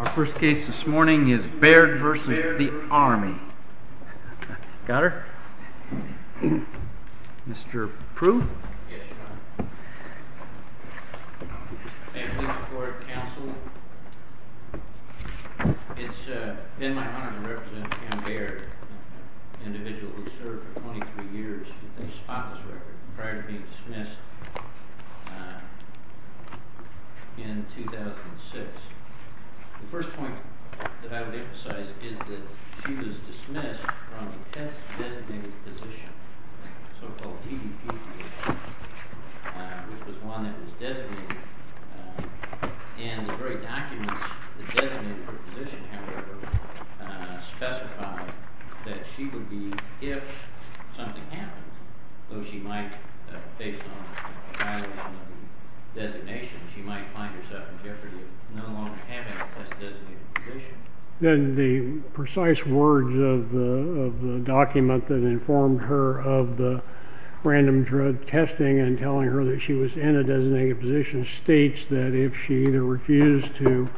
Our first case this morning is Baird v. The Army. Got her? Mr. Prue? Yes, Your Honor. Family Support Council. It's been my honor to represent Pam Baird, an individual who served for 23 years with a spotless record prior to being dismissed in 2006. The first point that I would emphasize is that she was dismissed from a test-designated position, a so-called DDPD, which was one that was designated. And the very documents that designated her position, however, specified that she would be, if something happened, though she might, based on a violation of the designation, she might find herself in jeopardy of no longer having a test-designated position. Then the precise words of the document that informed her of the random drug testing and telling her that she was in a designated position states that if she either refused to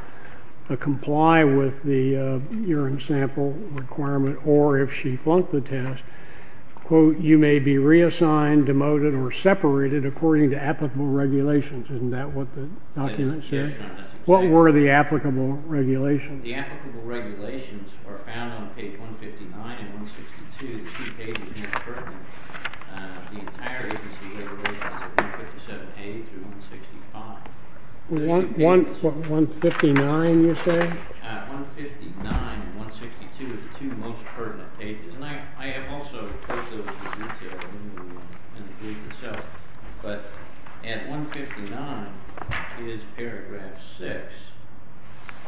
comply with the urine sample requirement or if she flunked the test, quote, you may be reassigned, demoted, or separated according to applicable regulations. Isn't that what the document says? Yes, Your Honor. What were the applicable regulations? The applicable regulations were found on page 159 and 162, the two pages most pertinent. The entire agency had regulations of 157A through 165. 159, you say? 159 and 162 are the two most pertinent pages. And I have also put those in detail in the brief itself. But at 159 is paragraph 6,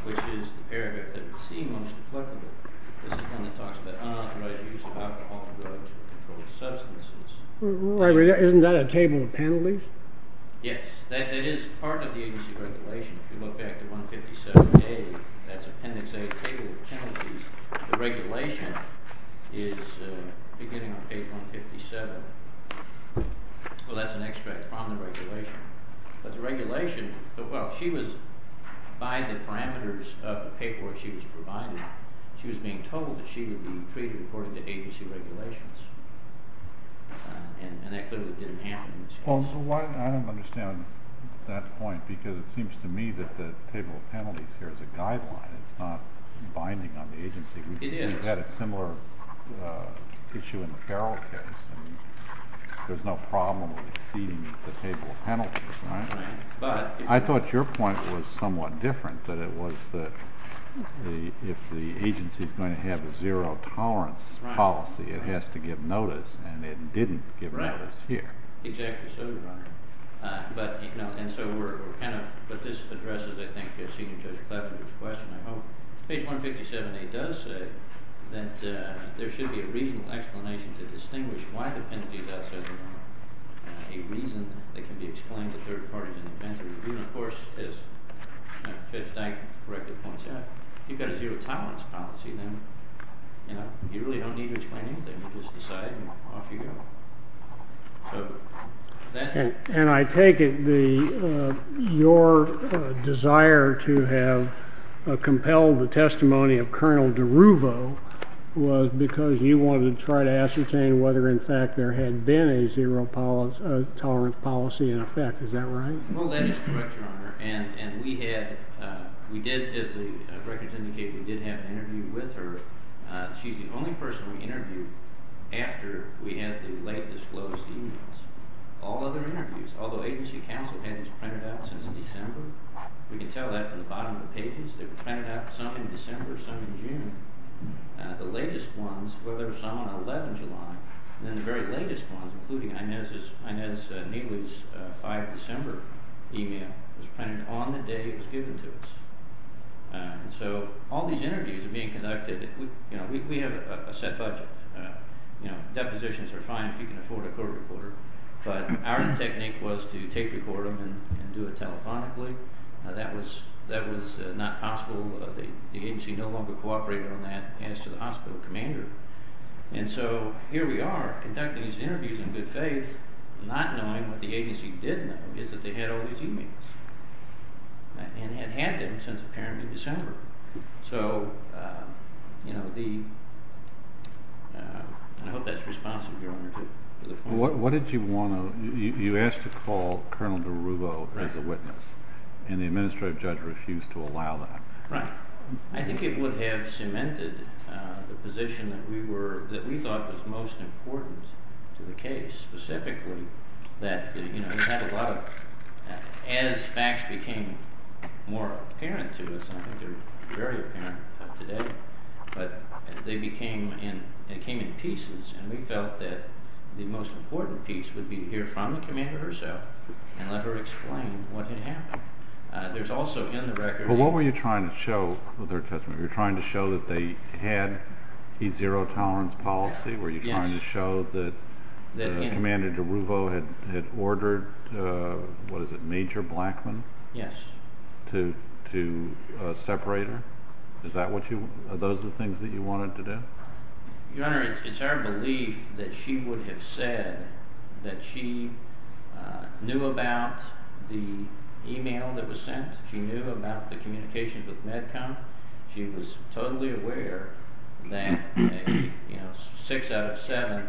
which is the paragraph that would seem most applicable. This is one that talks about unauthorized use of alcohol, drugs, and controlled substances. Isn't that a table of penalties? Yes, that is part of the agency regulation. If you look back to 157A, that's appendix A, table of penalties. The regulation is beginning on page 157. Well, that's an extract from the regulation. But the regulation, well, she was, by the parameters of the paper where she was provided, she was being told that she would be treated according to agency regulations. And that clearly didn't happen in this case. Well, I don't understand that point because it seems to me that the table of penalties here is a guideline. It's not binding on the agency. It is. We've had a similar issue in the Farrell case. And there's no problem with exceeding the table of penalties, right? Right. I thought your point was somewhat different, that it was that if the agency is going to have a zero tolerance policy, it has to give notice, and it didn't give notice here. Right. Exactly so, Your Honor. But, you know, and so we're kind of, but this addresses, I think, Senior Judge Kleffner's question, I hope. Page 157A does say that there should be a reasonable explanation to distinguish why the penalties are set apart, a reason that can be explained to third parties in the penalty review. And, of course, as Judge Stein correctly points out, if you've got a zero tolerance policy, then, you know, you really don't need to explain anything. You just decide and off you go. And I take it your desire to have compelled the testimony of Colonel DeRuvo was because you wanted to try to ascertain whether, in fact, there had been a zero tolerance policy in effect. Is that right? Well, that is correct, Your Honor. And we had, we did, as the records indicate, we did have an interview with her. She's the only person we interviewed after we had the late disclosed emails. All other interviews, although agency counsel had these printed out since December, we can tell that from the bottom of the pages. They were printed out, some in December, some in June. The latest ones, well, there were some on 11 July, and then the very latest ones, including Inez Neely's 5 December email, was printed on the day it was given to us. So all these interviews are being conducted. You know, we have a set budget. You know, depositions are fine if you can afford a court reporter. But our technique was to tape record them and do it telephonically. That was not possible. The agency no longer cooperated on that as to the hospital commander. And so here we are conducting these interviews in good faith, not knowing what the agency did know is that they had all these emails. And had had them since apparently December. So, you know, the—I hope that's responsive, Your Honor, to the point. What did you want to—you asked to call Colonel DiRuvo as a witness, and the administrative judge refused to allow that. Right. I think it would have cemented the position that we thought was most important to the case, specifically that, you know, we had a lot of—as facts became more apparent to us, I think they're very apparent today, but they became in—they came in pieces. And we felt that the most important piece would be to hear from the commander herself and let her explain what had happened. There's also in the record— But what were you trying to show with her testimony? Were you trying to show that they had a zero-tolerance policy? Yes. Were you trying to show that Commander DiRuvo had ordered, what is it, Major Blackmun? Yes. To separate her? Is that what you—are those the things that you wanted to do? Your Honor, it's our belief that she would have said that she knew about the email that was sent. She knew about the communications with MedCom. She was totally aware that, you know, six out of seven—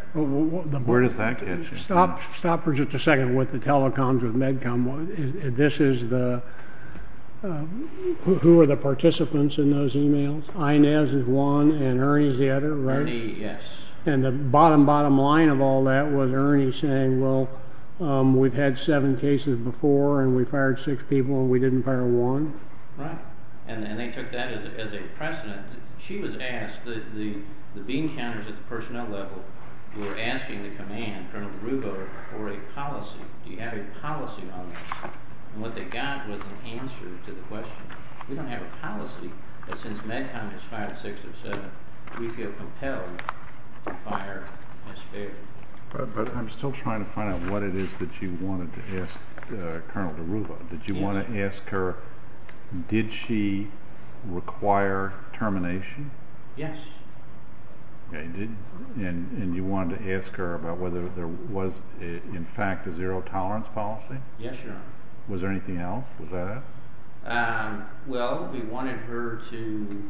Where does that get you? Stop for just a second with the telecoms with MedCom. This is the—who are the participants in those emails? Inez is one and Ernie is the other, right? Ernie, yes. And the bottom, bottom line of all that was Ernie saying, well, we've had seven cases before and we fired six people and we didn't fire one. Right. And they took that as a precedent. She was asked—the beam counters at the personnel level were asking the command, Colonel DiRuvo, for a policy. Do you have a policy on this? And what they got was an answer to the question. We don't have a policy, but since MedCom has fired six or seven, we feel compelled to fire a spare. But I'm still trying to find out what it is that you wanted to ask Colonel DiRuvo. Did you want to ask her, did she require termination? Yes. And you wanted to ask her about whether there was, in fact, a zero tolerance policy? Yes, Your Honor. Was there anything else? Was that it? Well, we wanted her to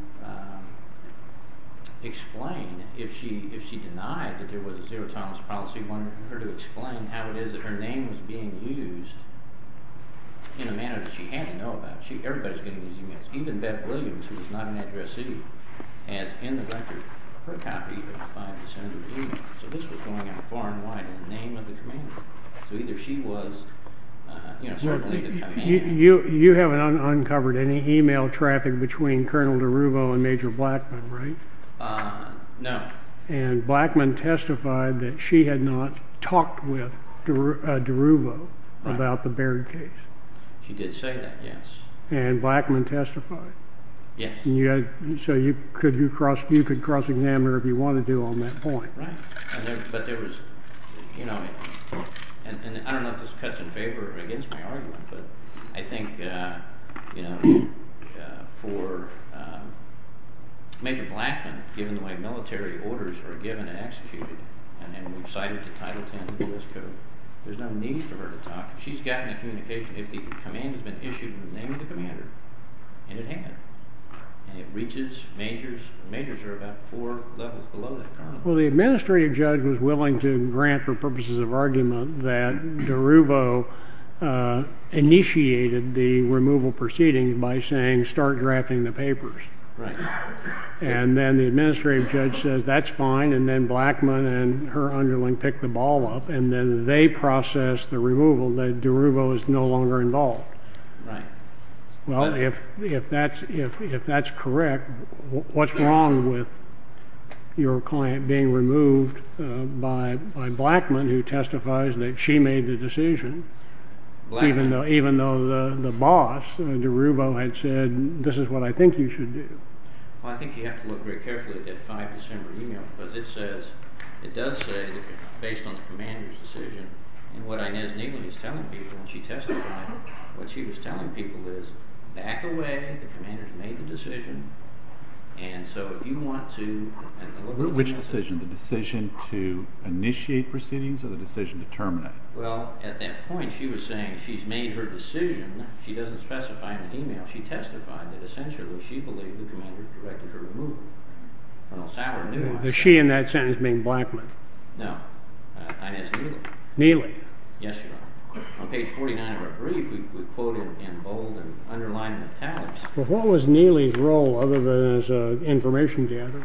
explain if she denied that there was a zero tolerance policy, we wanted her to explain how it is that her name was being used in a manner that she had to know about. Everybody's getting these emails. Even Beth Williams, who is not an addressee, has in the record her copy of 5 December evening. So this was going out far and wide in the name of the commander. So either she was, you know, certainly the commander. You haven't uncovered any email traffic between Colonel DiRuvo and Major Blackman, right? No. And Blackman testified that she had not talked with DiRuvo about the Baird case. She did say that, yes. And Blackman testified? Yes. So you could cross-examine her if you wanted to on that point. Right. But there was, you know, and I don't know if this cuts in favor or against my argument, but I think, you know, for Major Blackman, given the way military orders are given and executed, and we've cited the Title 10 of the U.S. Code, there's no need for her to talk. She's gotten a communication. If the command has been issued in the name of the commander, and it had, and it reaches Majors, Majors are about four levels below that Colonel. Well, the administrative judge was willing to grant, for purposes of argument, that DiRuvo initiated the removal proceedings by saying start drafting the papers. Right. And then the administrative judge says that's fine, and then Blackman and her underling pick the ball up, and then they process the removal that DiRuvo is no longer involved. Right. Well, if that's correct, what's wrong with your client being removed by Blackman, who testifies that she made the decision, even though the boss, DiRuvo, had said, this is what I think you should do? Well, I think you have to look very carefully at that 5 December email, because it says, it does say, based on the commander's decision, and what Inez Neeley is telling people, and she testified, what she was telling people is back away, the commander's made the decision, and so if you want to, and look at the message. Which decision, the decision to initiate proceedings or the decision to terminate? Well, at that point she was saying she's made her decision. She doesn't specify in the email. She testified that essentially she believed the commander directed her removal. Well, Sauer knew. Is she in that sentence being Blackman? No, Inez Neeley. Neeley? Yes, Your Honor. On page 49 of her brief, we quoted in bold and underlined in italics. Well, what was Neeley's role, other than as an information gatherer?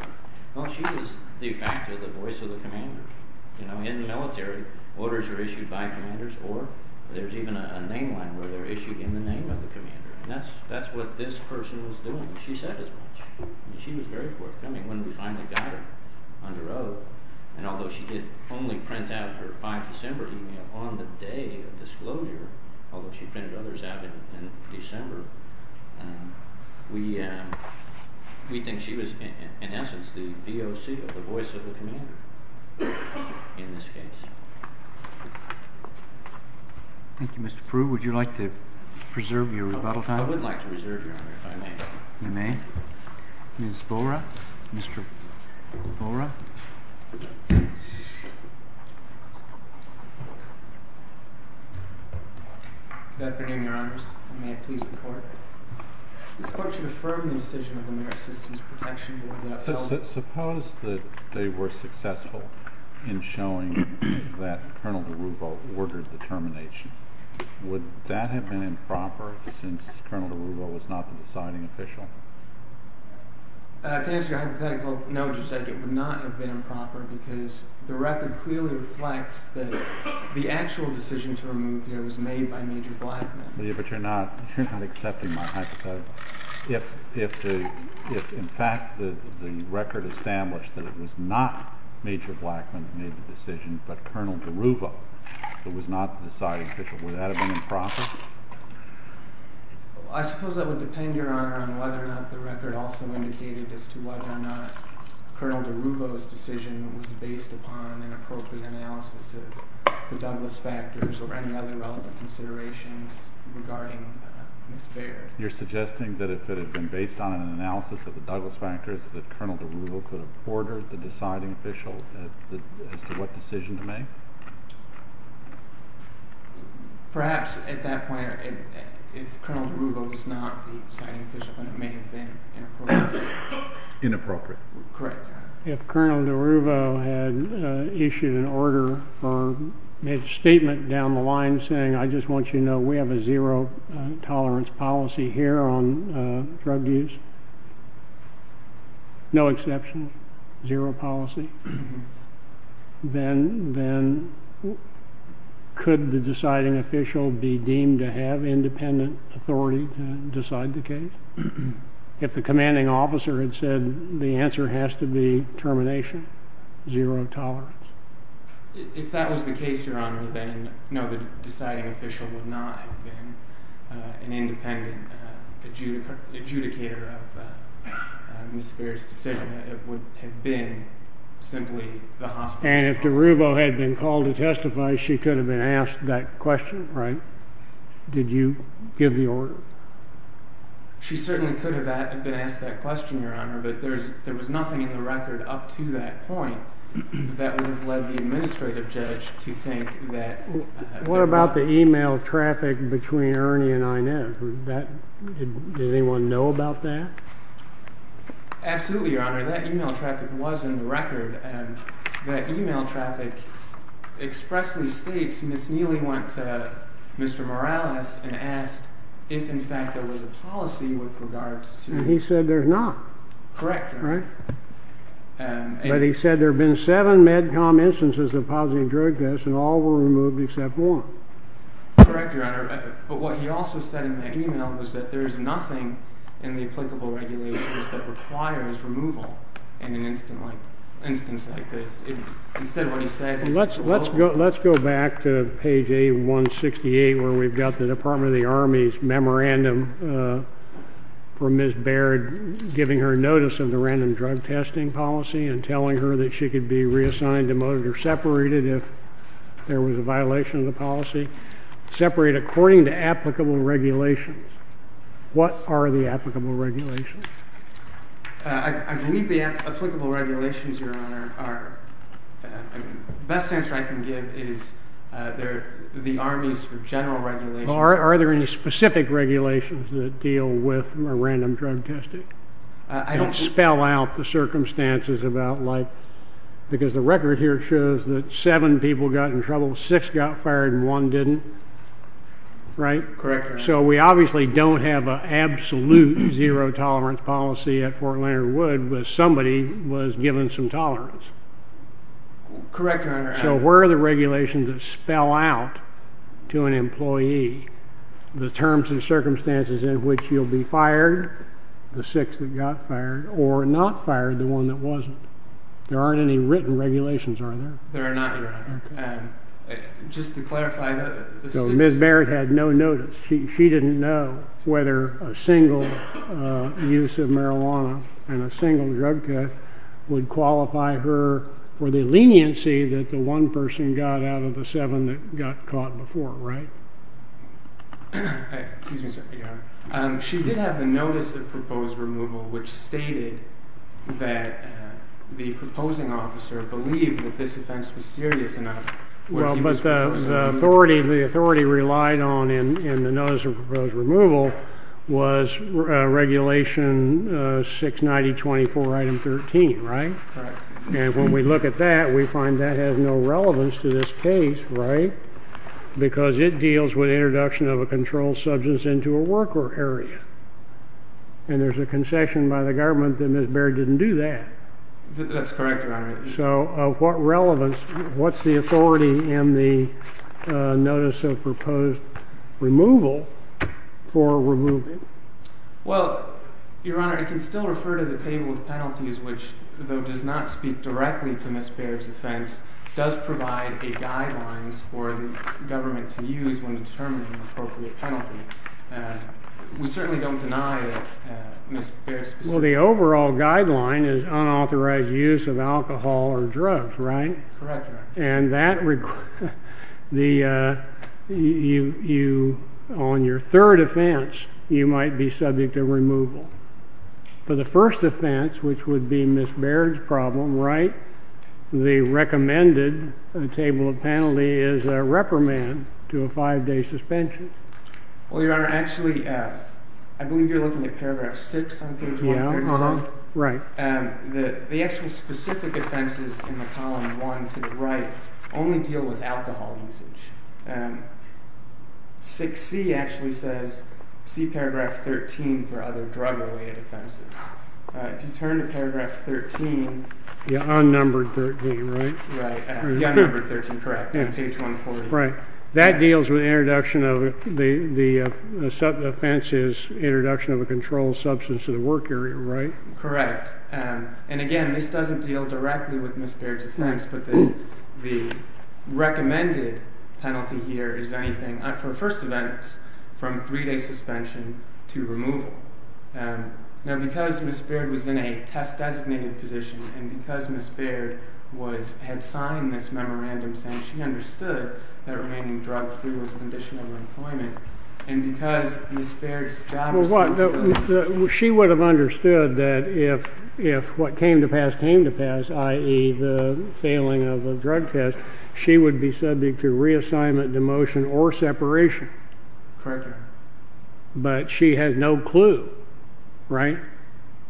Well, she was de facto the voice of the commander. In the military, orders are issued by commanders, or there's even a name line where they're issued in the name of the commander, and that's what this person was doing. She said as much. She was very forthcoming when we finally got her under oath, and although she did only print out her 5 December email on the day of disclosure, although she printed others out in December, we think she was in essence the VOC, the voice of the commander in this case. Thank you. Mr. Pruitt, would you like to preserve your rebuttal time? I would like to preserve your honor, if I may. You may. Ms. Bora? Mr. Bora? Good afternoon, Your Honors, and may it please the Court. This Court should affirm the decision of the American Citizens Protection Board that upheld— Suppose that they were successful in showing that Colonel DeRubo ordered the termination. Would that have been improper since Colonel DeRubo was not the deciding official? To answer your hypothetical, no, Judge Dekke, it would not have been improper because the record clearly reflects that the actual decision to remove her was made by Major Blackman. But you're not accepting my hypothetical. If, in fact, the record established that it was not Major Blackman who made the decision, but Colonel DeRubo who was not the deciding official, would that have been improper? I suppose that would depend, Your Honor, on whether or not the record also indicated as to whether or not Colonel DeRubo's decision was based upon an appropriate analysis of the Douglas factors or any other relevant considerations regarding Ms. Baird. You're suggesting that if it had been based on an analysis of the Douglas factors, that Colonel DeRubo could have ordered the deciding official as to what decision to make? Perhaps at that point, if Colonel DeRubo was not the deciding official, then it may have been inappropriate. Inappropriate. Correct, Your Honor. If Colonel DeRubo had issued an order or made a statement down the line saying, I just want you to know we have a zero tolerance policy here on drug use, no exceptions, zero policy, then could the deciding official be deemed to have independent authority to decide the case? If the commanding officer had said the answer has to be termination, zero tolerance? If that was the case, Your Honor, then no, the deciding official would not have been an independent adjudicator of Ms. Baird's decision. It would have been simply the hospital's policy. And if DeRubo had been called to testify, she could have been asked that question, right? Did you give the order? She certainly could have been asked that question, Your Honor, but there was nothing in the record up to that point that would have led the administrative judge to think that. What about the email traffic between Ernie and Inez? Did anyone know about that? Absolutely, Your Honor. That email traffic was in the record, and that email traffic expressly states Ms. Neely went to Mr. Morales and asked if, in fact, there was a policy with regards to— And he said there's not. Correct, Your Honor. But he said there have been seven MedCom instances of positive drug use, and all were removed except one. Correct, Your Honor. But what he also said in that email was that there's nothing in the applicable regulations that requires removal in an instance like this. He said what he said. Let's go back to page A168 where we've got the Department of the Army's memorandum for Ms. Baird giving her notice of the random drug testing policy and telling her that she could be reassigned, demoted, or separated if there was a violation of the policy. Separate according to applicable regulations. What are the applicable regulations? I believe the applicable regulations, Your Honor, are—the best answer I can give is the Army's general regulations. Are there any specific regulations that deal with random drug testing? I don't think— Correct, Your Honor. Correct, Your Honor. There are not, Your Honor. Just to clarify— So Ms. Baird had no notice. She didn't know whether a single use of marijuana and a single drug test would qualify her for the leniency that the one person got out of the seven that got caught before, right? Excuse me, sir. She did have the notice of proposed removal which stated that the proposing officer believed that this offense was serious enough. Well, but the authority—the authority relied on in the notice of proposed removal was Regulation 690-24, Item 13, right? Right. And when we look at that, we find that has no relevance to this case, right? Because it deals with introduction of a controlled substance into a worker area. And there's a concession by the government that Ms. Baird didn't do that. That's correct, Your Honor. So what relevance—what's the authority in the notice of proposed removal for removing? Well, Your Honor, it can still refer to the table of penalties which, though does not speak directly to Ms. Baird's offense, does provide a guideline for the government to use when determining an appropriate penalty. We certainly don't deny that Ms. Baird specifically— Well, the overall guideline is unauthorized use of alcohol or drugs, right? Correct, Your Honor. And that—the—you—on your third offense, you might be subject to removal. For the first offense, which would be Ms. Baird's problem, right, the recommended table of penalty is a reprimand to a five-day suspension. Well, Your Honor, actually, I believe you're looking at paragraph 6 on page 137. Yeah, uh-huh. Right. The actual specific offenses in the column 1 to the right only deal with alcohol usage. 6C actually says see paragraph 13 for other drug-related offenses. If you turn to paragraph 13— The unnumbered 13, right? Right. The unnumbered 13, correct, on page 140. Right. That deals with the introduction of—the offense is introduction of a controlled substance to the work area, right? Correct. And, again, this doesn't deal directly with Ms. Baird's offense, but the recommended penalty here is anything, for first offense, from three-day suspension to removal. Now, because Ms. Baird was in a test-designated position and because Ms. Baird was—had signed this memorandum saying she understood that remaining drug-free was a condition of employment, and because Ms. Baird's job— She would have understood that if what came to pass came to pass, i.e., the failing of the drug test, she would be subject to reassignment, demotion, or separation. Correct, Your Honor. But she has no clue, right,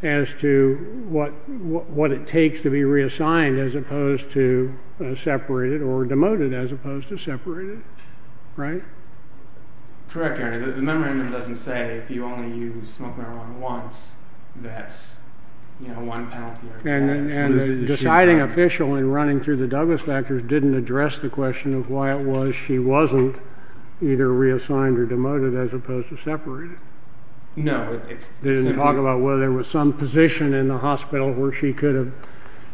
as to what it takes to be reassigned as opposed to separated or demoted as opposed to separated, right? Correct, Your Honor. The memorandum doesn't say if you only use smoke marijuana once, that's, you know, one penalty or two. And the deciding official in running through the Douglas factors didn't address the question of why it was she wasn't either reassigned or demoted as opposed to separated? No. It didn't talk about whether there was some position in the hospital where she could have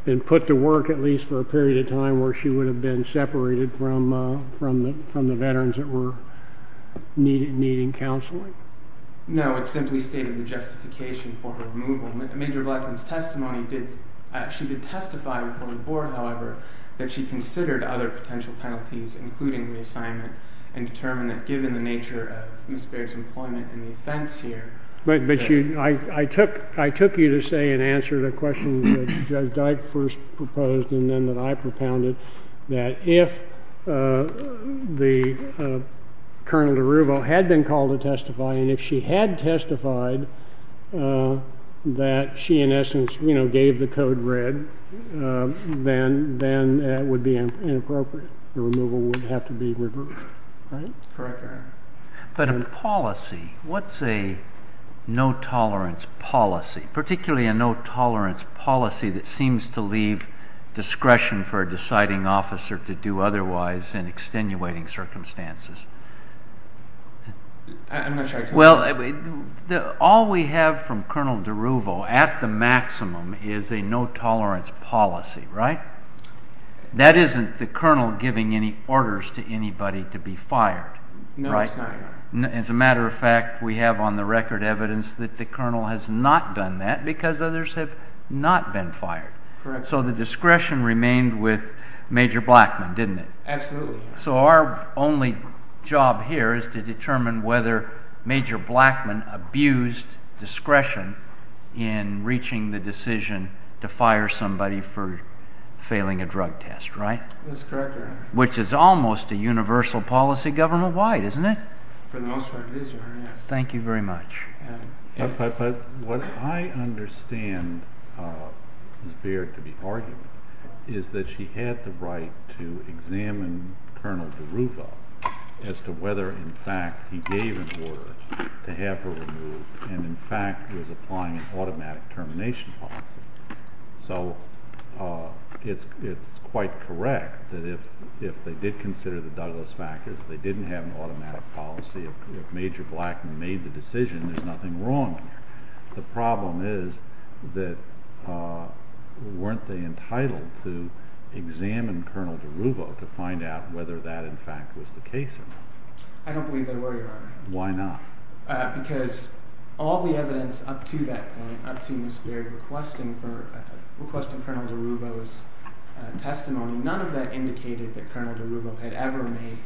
been put to work, at least for a period of time, where she would have been separated from the veterans that were needing counseling? No, it simply stated the justification for her removal. Major Blackman's testimony did—she did testify before the Board, however, that she considered other potential penalties, including reassignment, and determined that given the nature of Ms. Baird's employment and the offense here— Correct, Your Honor. But a policy—what's a no-tolerance policy, particularly a no-tolerance policy that seems to leave discretion for a deciding officer to do otherwise in extenuating circumstances? I'm not sure I can answer that. Well, all we have from Colonel DeRuvo at the maximum is a no-tolerance policy, right? That isn't the colonel giving any orders to anybody to be fired, right? No, it's not, Your Honor. As a matter of fact, we have on the record evidence that the colonel has not done that because others have not been fired. Correct. So the discretion remained with Major Blackman, didn't it? Absolutely. So our only job here is to determine whether Major Blackman abused discretion in reaching the decision to fire somebody for failing a drug test, right? That's correct, Your Honor. Which is almost a universal policy government-wide, isn't it? For the most part, it is, Your Honor, yes. Thank you very much. But what I understand is bared to be argued is that she had the right to examine Colonel DeRuvo as to whether, in fact, he gave an order to have her removed and, in fact, was applying an automatic termination policy. So it's quite correct that if they did consider the Douglas factors, they didn't have an automatic policy. If Major Blackman made the decision, there's nothing wrong there. The problem is that weren't they entitled to examine Colonel DeRuvo to find out whether that, in fact, was the case or not? I don't believe they were, Your Honor. Why not? Because all the evidence up to that point, up to Ms. Baird, requesting Colonel DeRuvo's testimony, none of that indicated that Colonel DeRuvo had ever made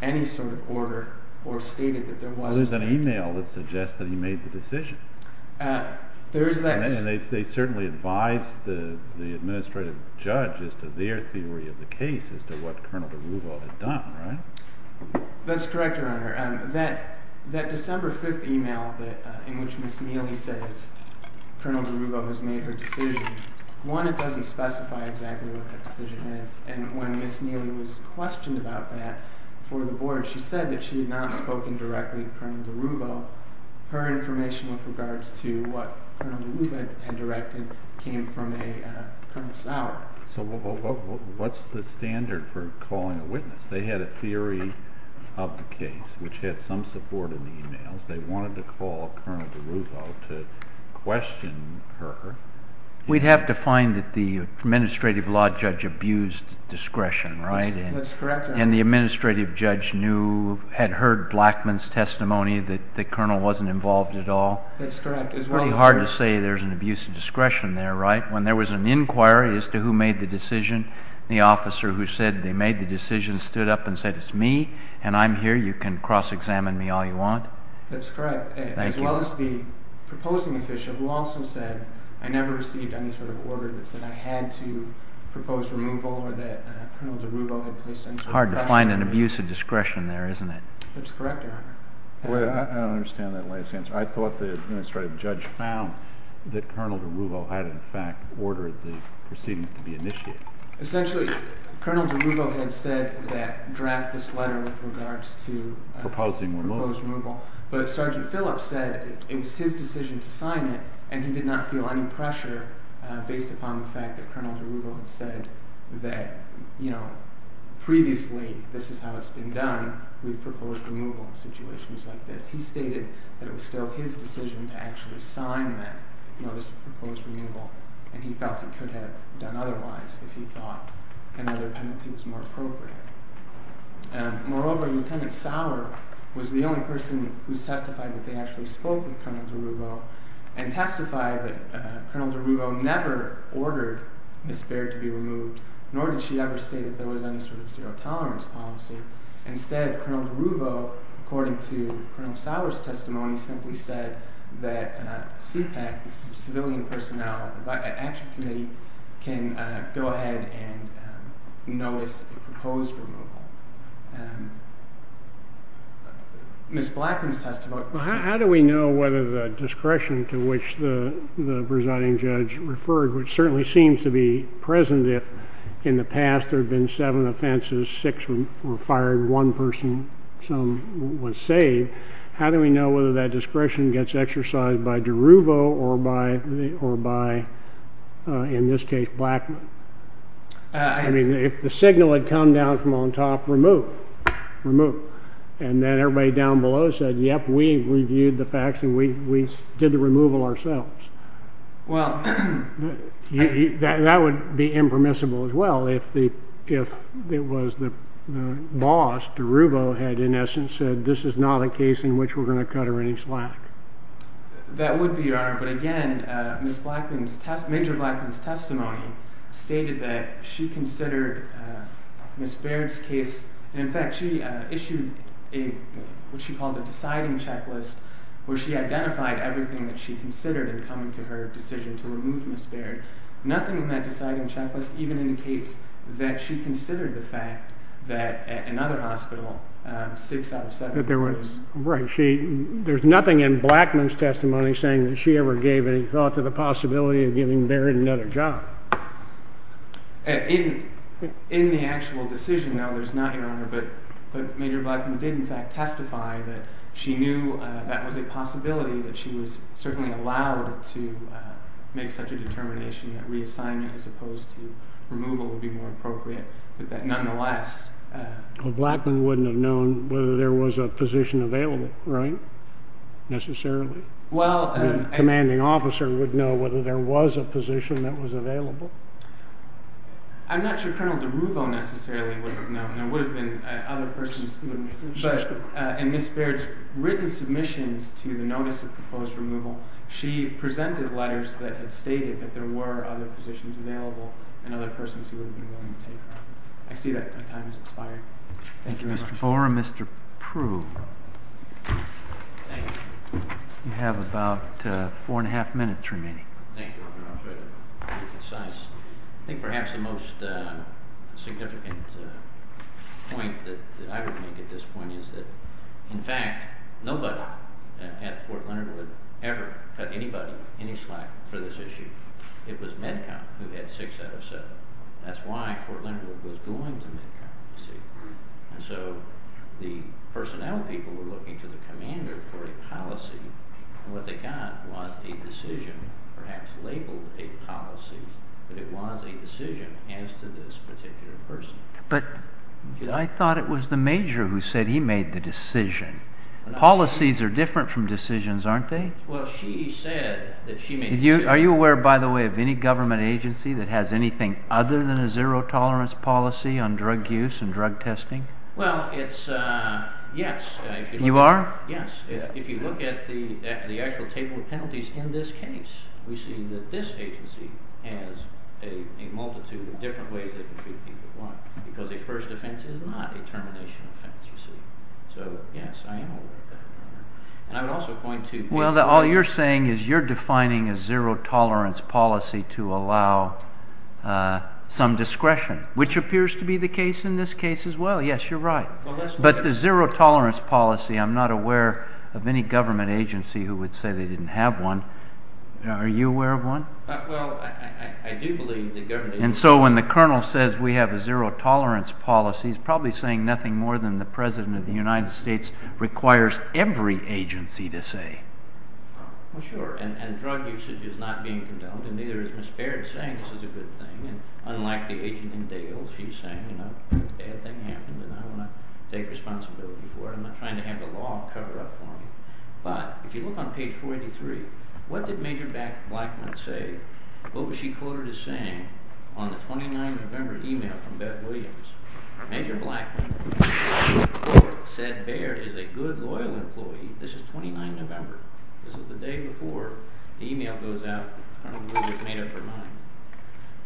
any sort of order or stated that there was. Well, there's an email that suggests that he made the decision. There is that. And they certainly advised the administrative judge as to their theory of the case as to what Colonel DeRuvo had done, right? That's correct, Your Honor. That December 5th email in which Ms. Neely says Colonel DeRuvo has made her decision, one, it doesn't specify exactly what the decision is. And when Ms. Neely was questioned about that for the board, she said that she had not spoken directly to Colonel DeRuvo. Her information with regards to what Colonel DeRuvo had directed came from a Colonel Sauer. So what's the standard for calling a witness? They had a theory of the case, which had some support in the emails. They wanted to call Colonel DeRuvo to question her. We'd have to find that the administrative law judge abused discretion, right? That's correct, Your Honor. And the administrative judge knew, had heard Blackmun's testimony that the colonel wasn't involved at all. That's correct as well, sir. It's pretty hard to say there's an abuse of discretion there, right? When there was an inquiry as to who made the decision, the officer who said they made the decision stood up and said, it's me, and I'm here. You can cross-examine me all you want. That's correct. Thank you. As well as the proposing official who also said, I never received any sort of order that said I had to propose removal or that Colonel DeRuvo had placed any sort of pressure on me. It's hard to find an abuse of discretion there, isn't it? That's correct, Your Honor. I don't understand that last answer. I thought the administrative judge found that Colonel DeRuvo had, in fact, ordered the proceedings to be initiated. Essentially, Colonel DeRuvo had said that draft this letter with regards to proposing removal. But Sergeant Phillips said it was his decision to sign it, and he did not feel any pressure based upon the fact that Colonel DeRuvo had said that, you know, previously this is how it's been done. We've proposed removal in situations like this. He stated that it was still his decision to actually sign that notice of proposed removal, and he felt he could have done otherwise if he thought another penalty was more appropriate. Moreover, Lieutenant Sauer was the only person who testified that they actually spoke with Colonel DeRuvo and testified that Colonel DeRuvo never ordered Ms. Baird to be removed, nor did she ever state that there was any sort of zero-tolerance policy. Instead, Colonel DeRuvo, according to Colonel Sauer's testimony, simply said that CPAC, the Civilian Personnel Action Committee, can go ahead and notice a proposed removal. Ms. Blackman's testimony… How do we know whether the discretion to which the presiding judge referred, which certainly seems to be present if in the past there have been seven offenses, six were fired, one person, some was saved, how do we know whether that discretion gets exercised by DeRuvo or by, in this case, Blackman? I mean, if the signal had come down from on top, remove, remove. And then everybody down below said, yep, we've reviewed the facts and we did the removal ourselves. Well… That would be impermissible as well if it was the boss, DeRuvo had in essence said, this is not a case in which we're going to cut her any slack. That would be, Your Honor, but again, Ms. Blackman's testimony stated that she considered Ms. Baird's case… In fact, she issued what she called a deciding checklist where she identified everything that she considered in coming to her decision to remove Ms. Baird. Nothing in that deciding checklist even indicates that she considered the fact that at another hospital, six out of seven… Right. There's nothing in Blackman's testimony saying that she ever gave any thought to the possibility of giving Baird another job. In the actual decision, no, there's not, Your Honor, but Major Blackman did in fact testify that she knew that was a possibility, that she was certainly allowed to make such a determination that reassignment as opposed to removal would be more appropriate, but that nonetheless… Well, Blackman wouldn't have known whether there was a position available, right, necessarily? Well… The commanding officer would know whether there was a position that was available? I'm not sure Colonel DeRuvo necessarily would have known. There would have been other persons who would have made such a… But in Ms. Baird's written submissions to the notice of proposed removal, she presented letters that had stated that there were other positions available and other persons who would have been willing to take her. I see that my time has expired. Thank you very much. Mr. Fore and Mr. Proulx, you have about four and a half minutes remaining. Thank you, Your Honor, I'll try to be concise. I think perhaps the most significant point that I would make at this point is that, in fact, nobody at Fort Leonard would ever cut anybody any slack for this issue. It was Medcom who had six out of seven. That's why Fort Leonard was going to Medcom, you see. And so the personnel people were looking to the commander for a policy, and what they got was a decision, perhaps labeled a policy, but it was a decision as to this particular person. But I thought it was the major who said he made the decision. Policies are different from decisions, aren't they? Well, she said that she made the decision. Are you aware, by the way, of any government agency that has anything other than a zero-tolerance policy on drug use and drug testing? Well, it's – yes. You are? Yes. If you look at the actual table of penalties in this case, we see that this agency has a multitude of different ways they can treat people. One, because a first offense is not a termination offense, you see. So, yes, I am aware of that. And I would also point to – Well, all you're saying is you're defining a zero-tolerance policy to allow some discretion, which appears to be the case in this case as well. Yes, you're right. But the zero-tolerance policy, I'm not aware of any government agency who would say they didn't have one. Are you aware of one? Well, I do believe the government agency – Well, sure, and drug usage is not being condoned, and neither is Ms. Baird saying this is a good thing. And unlike the agent in Dale, she's saying, you know, a bad thing happened, and I want to take responsibility for it. I'm not trying to have the law cover up for me. But if you look on page 483, what did Major Blackmun say? What was she quoted as saying on the 29th of November email from Bet Williams? Major Blackmun said Baird is a good, loyal employee. This is 29 November. This is the day before the email goes out. I don't know where this made up her mind.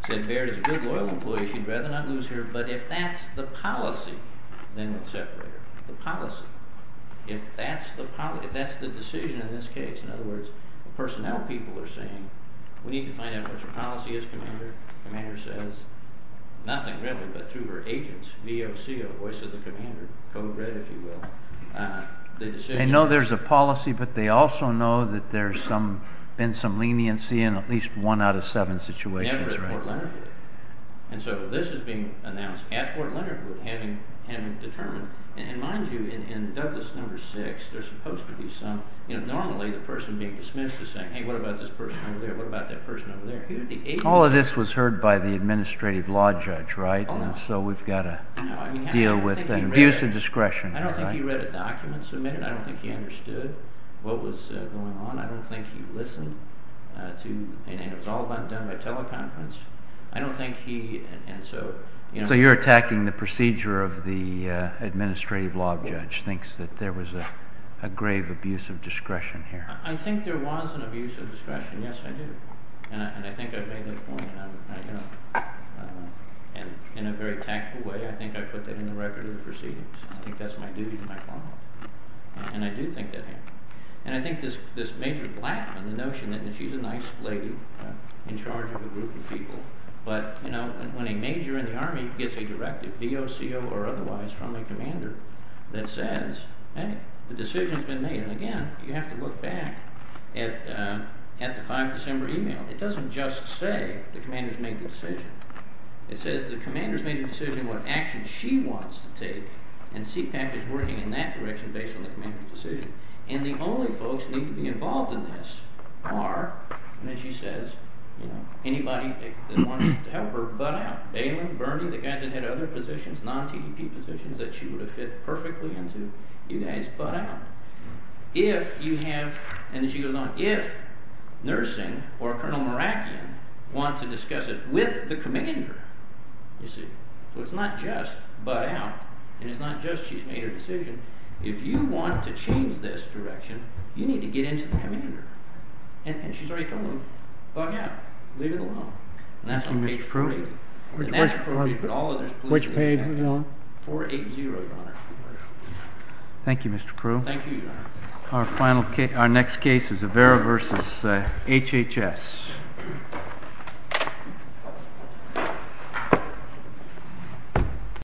Said Baird is a good, loyal employee. She'd rather not lose her, but if that's the policy, then we'll separate her. The policy. If that's the policy – if that's the decision in this case, in other words, the personnel people are saying we need to find out what your policy is, Commander. Commander says, nothing written, but through her agents, VOC, a voice of the Commander, co-read, if you will, the decision. They know there's a policy, but they also know that there's been some leniency in at least one out of seven situations. Never at Fort Leonardwood. And so this is being announced at Fort Leonardwood, having determined. And mind you, in Douglas number six, there's supposed to be some – normally the person being dismissed is saying, hey, what about this person over there? What about that person over there? All of this was heard by the administrative law judge, right? And so we've got to deal with an abuse of discretion. I don't think he read a document submitted. I don't think he understood what was going on. I don't think he listened to – and it was all done by teleconference. I don't think he – and so – So you're attacking the procedure of the administrative law judge, thinks that there was a grave abuse of discretion here. I think there was an abuse of discretion. Yes, I do. And I think I've made that point. And in a very tactful way, I think I put that in the record of the proceedings. I think that's my duty and my bond. And I do think that happened. And I think this Major Blackman, the notion that she's a nice lady in charge of a group of people. But when a major in the Army gets a directive, VOCO or otherwise, from a commander that says, hey, the decision's been made. And again, you have to look back at the 5 December email. It doesn't just say the commander's made the decision. It says the commander's made the decision what action she wants to take. And CPAC is working in that direction based on the commander's decision. And the only folks that need to be involved in this are – and then she says, you know, anybody that wants to help her, butt out. If you have – and then she goes on. If nursing or Colonel Merakian want to discuss it with the commander, you see. So it's not just butt out. And it's not just she's made her decision. If you want to change this direction, you need to get into the commander. And she's already told them, butt out. Leave it alone. And that's on page 3. And that's before we put all of this police – Which page? 480, Your Honor. Thank you, Mr. Crew. Thank you, Your Honor. Our next case is Avera v. HHS.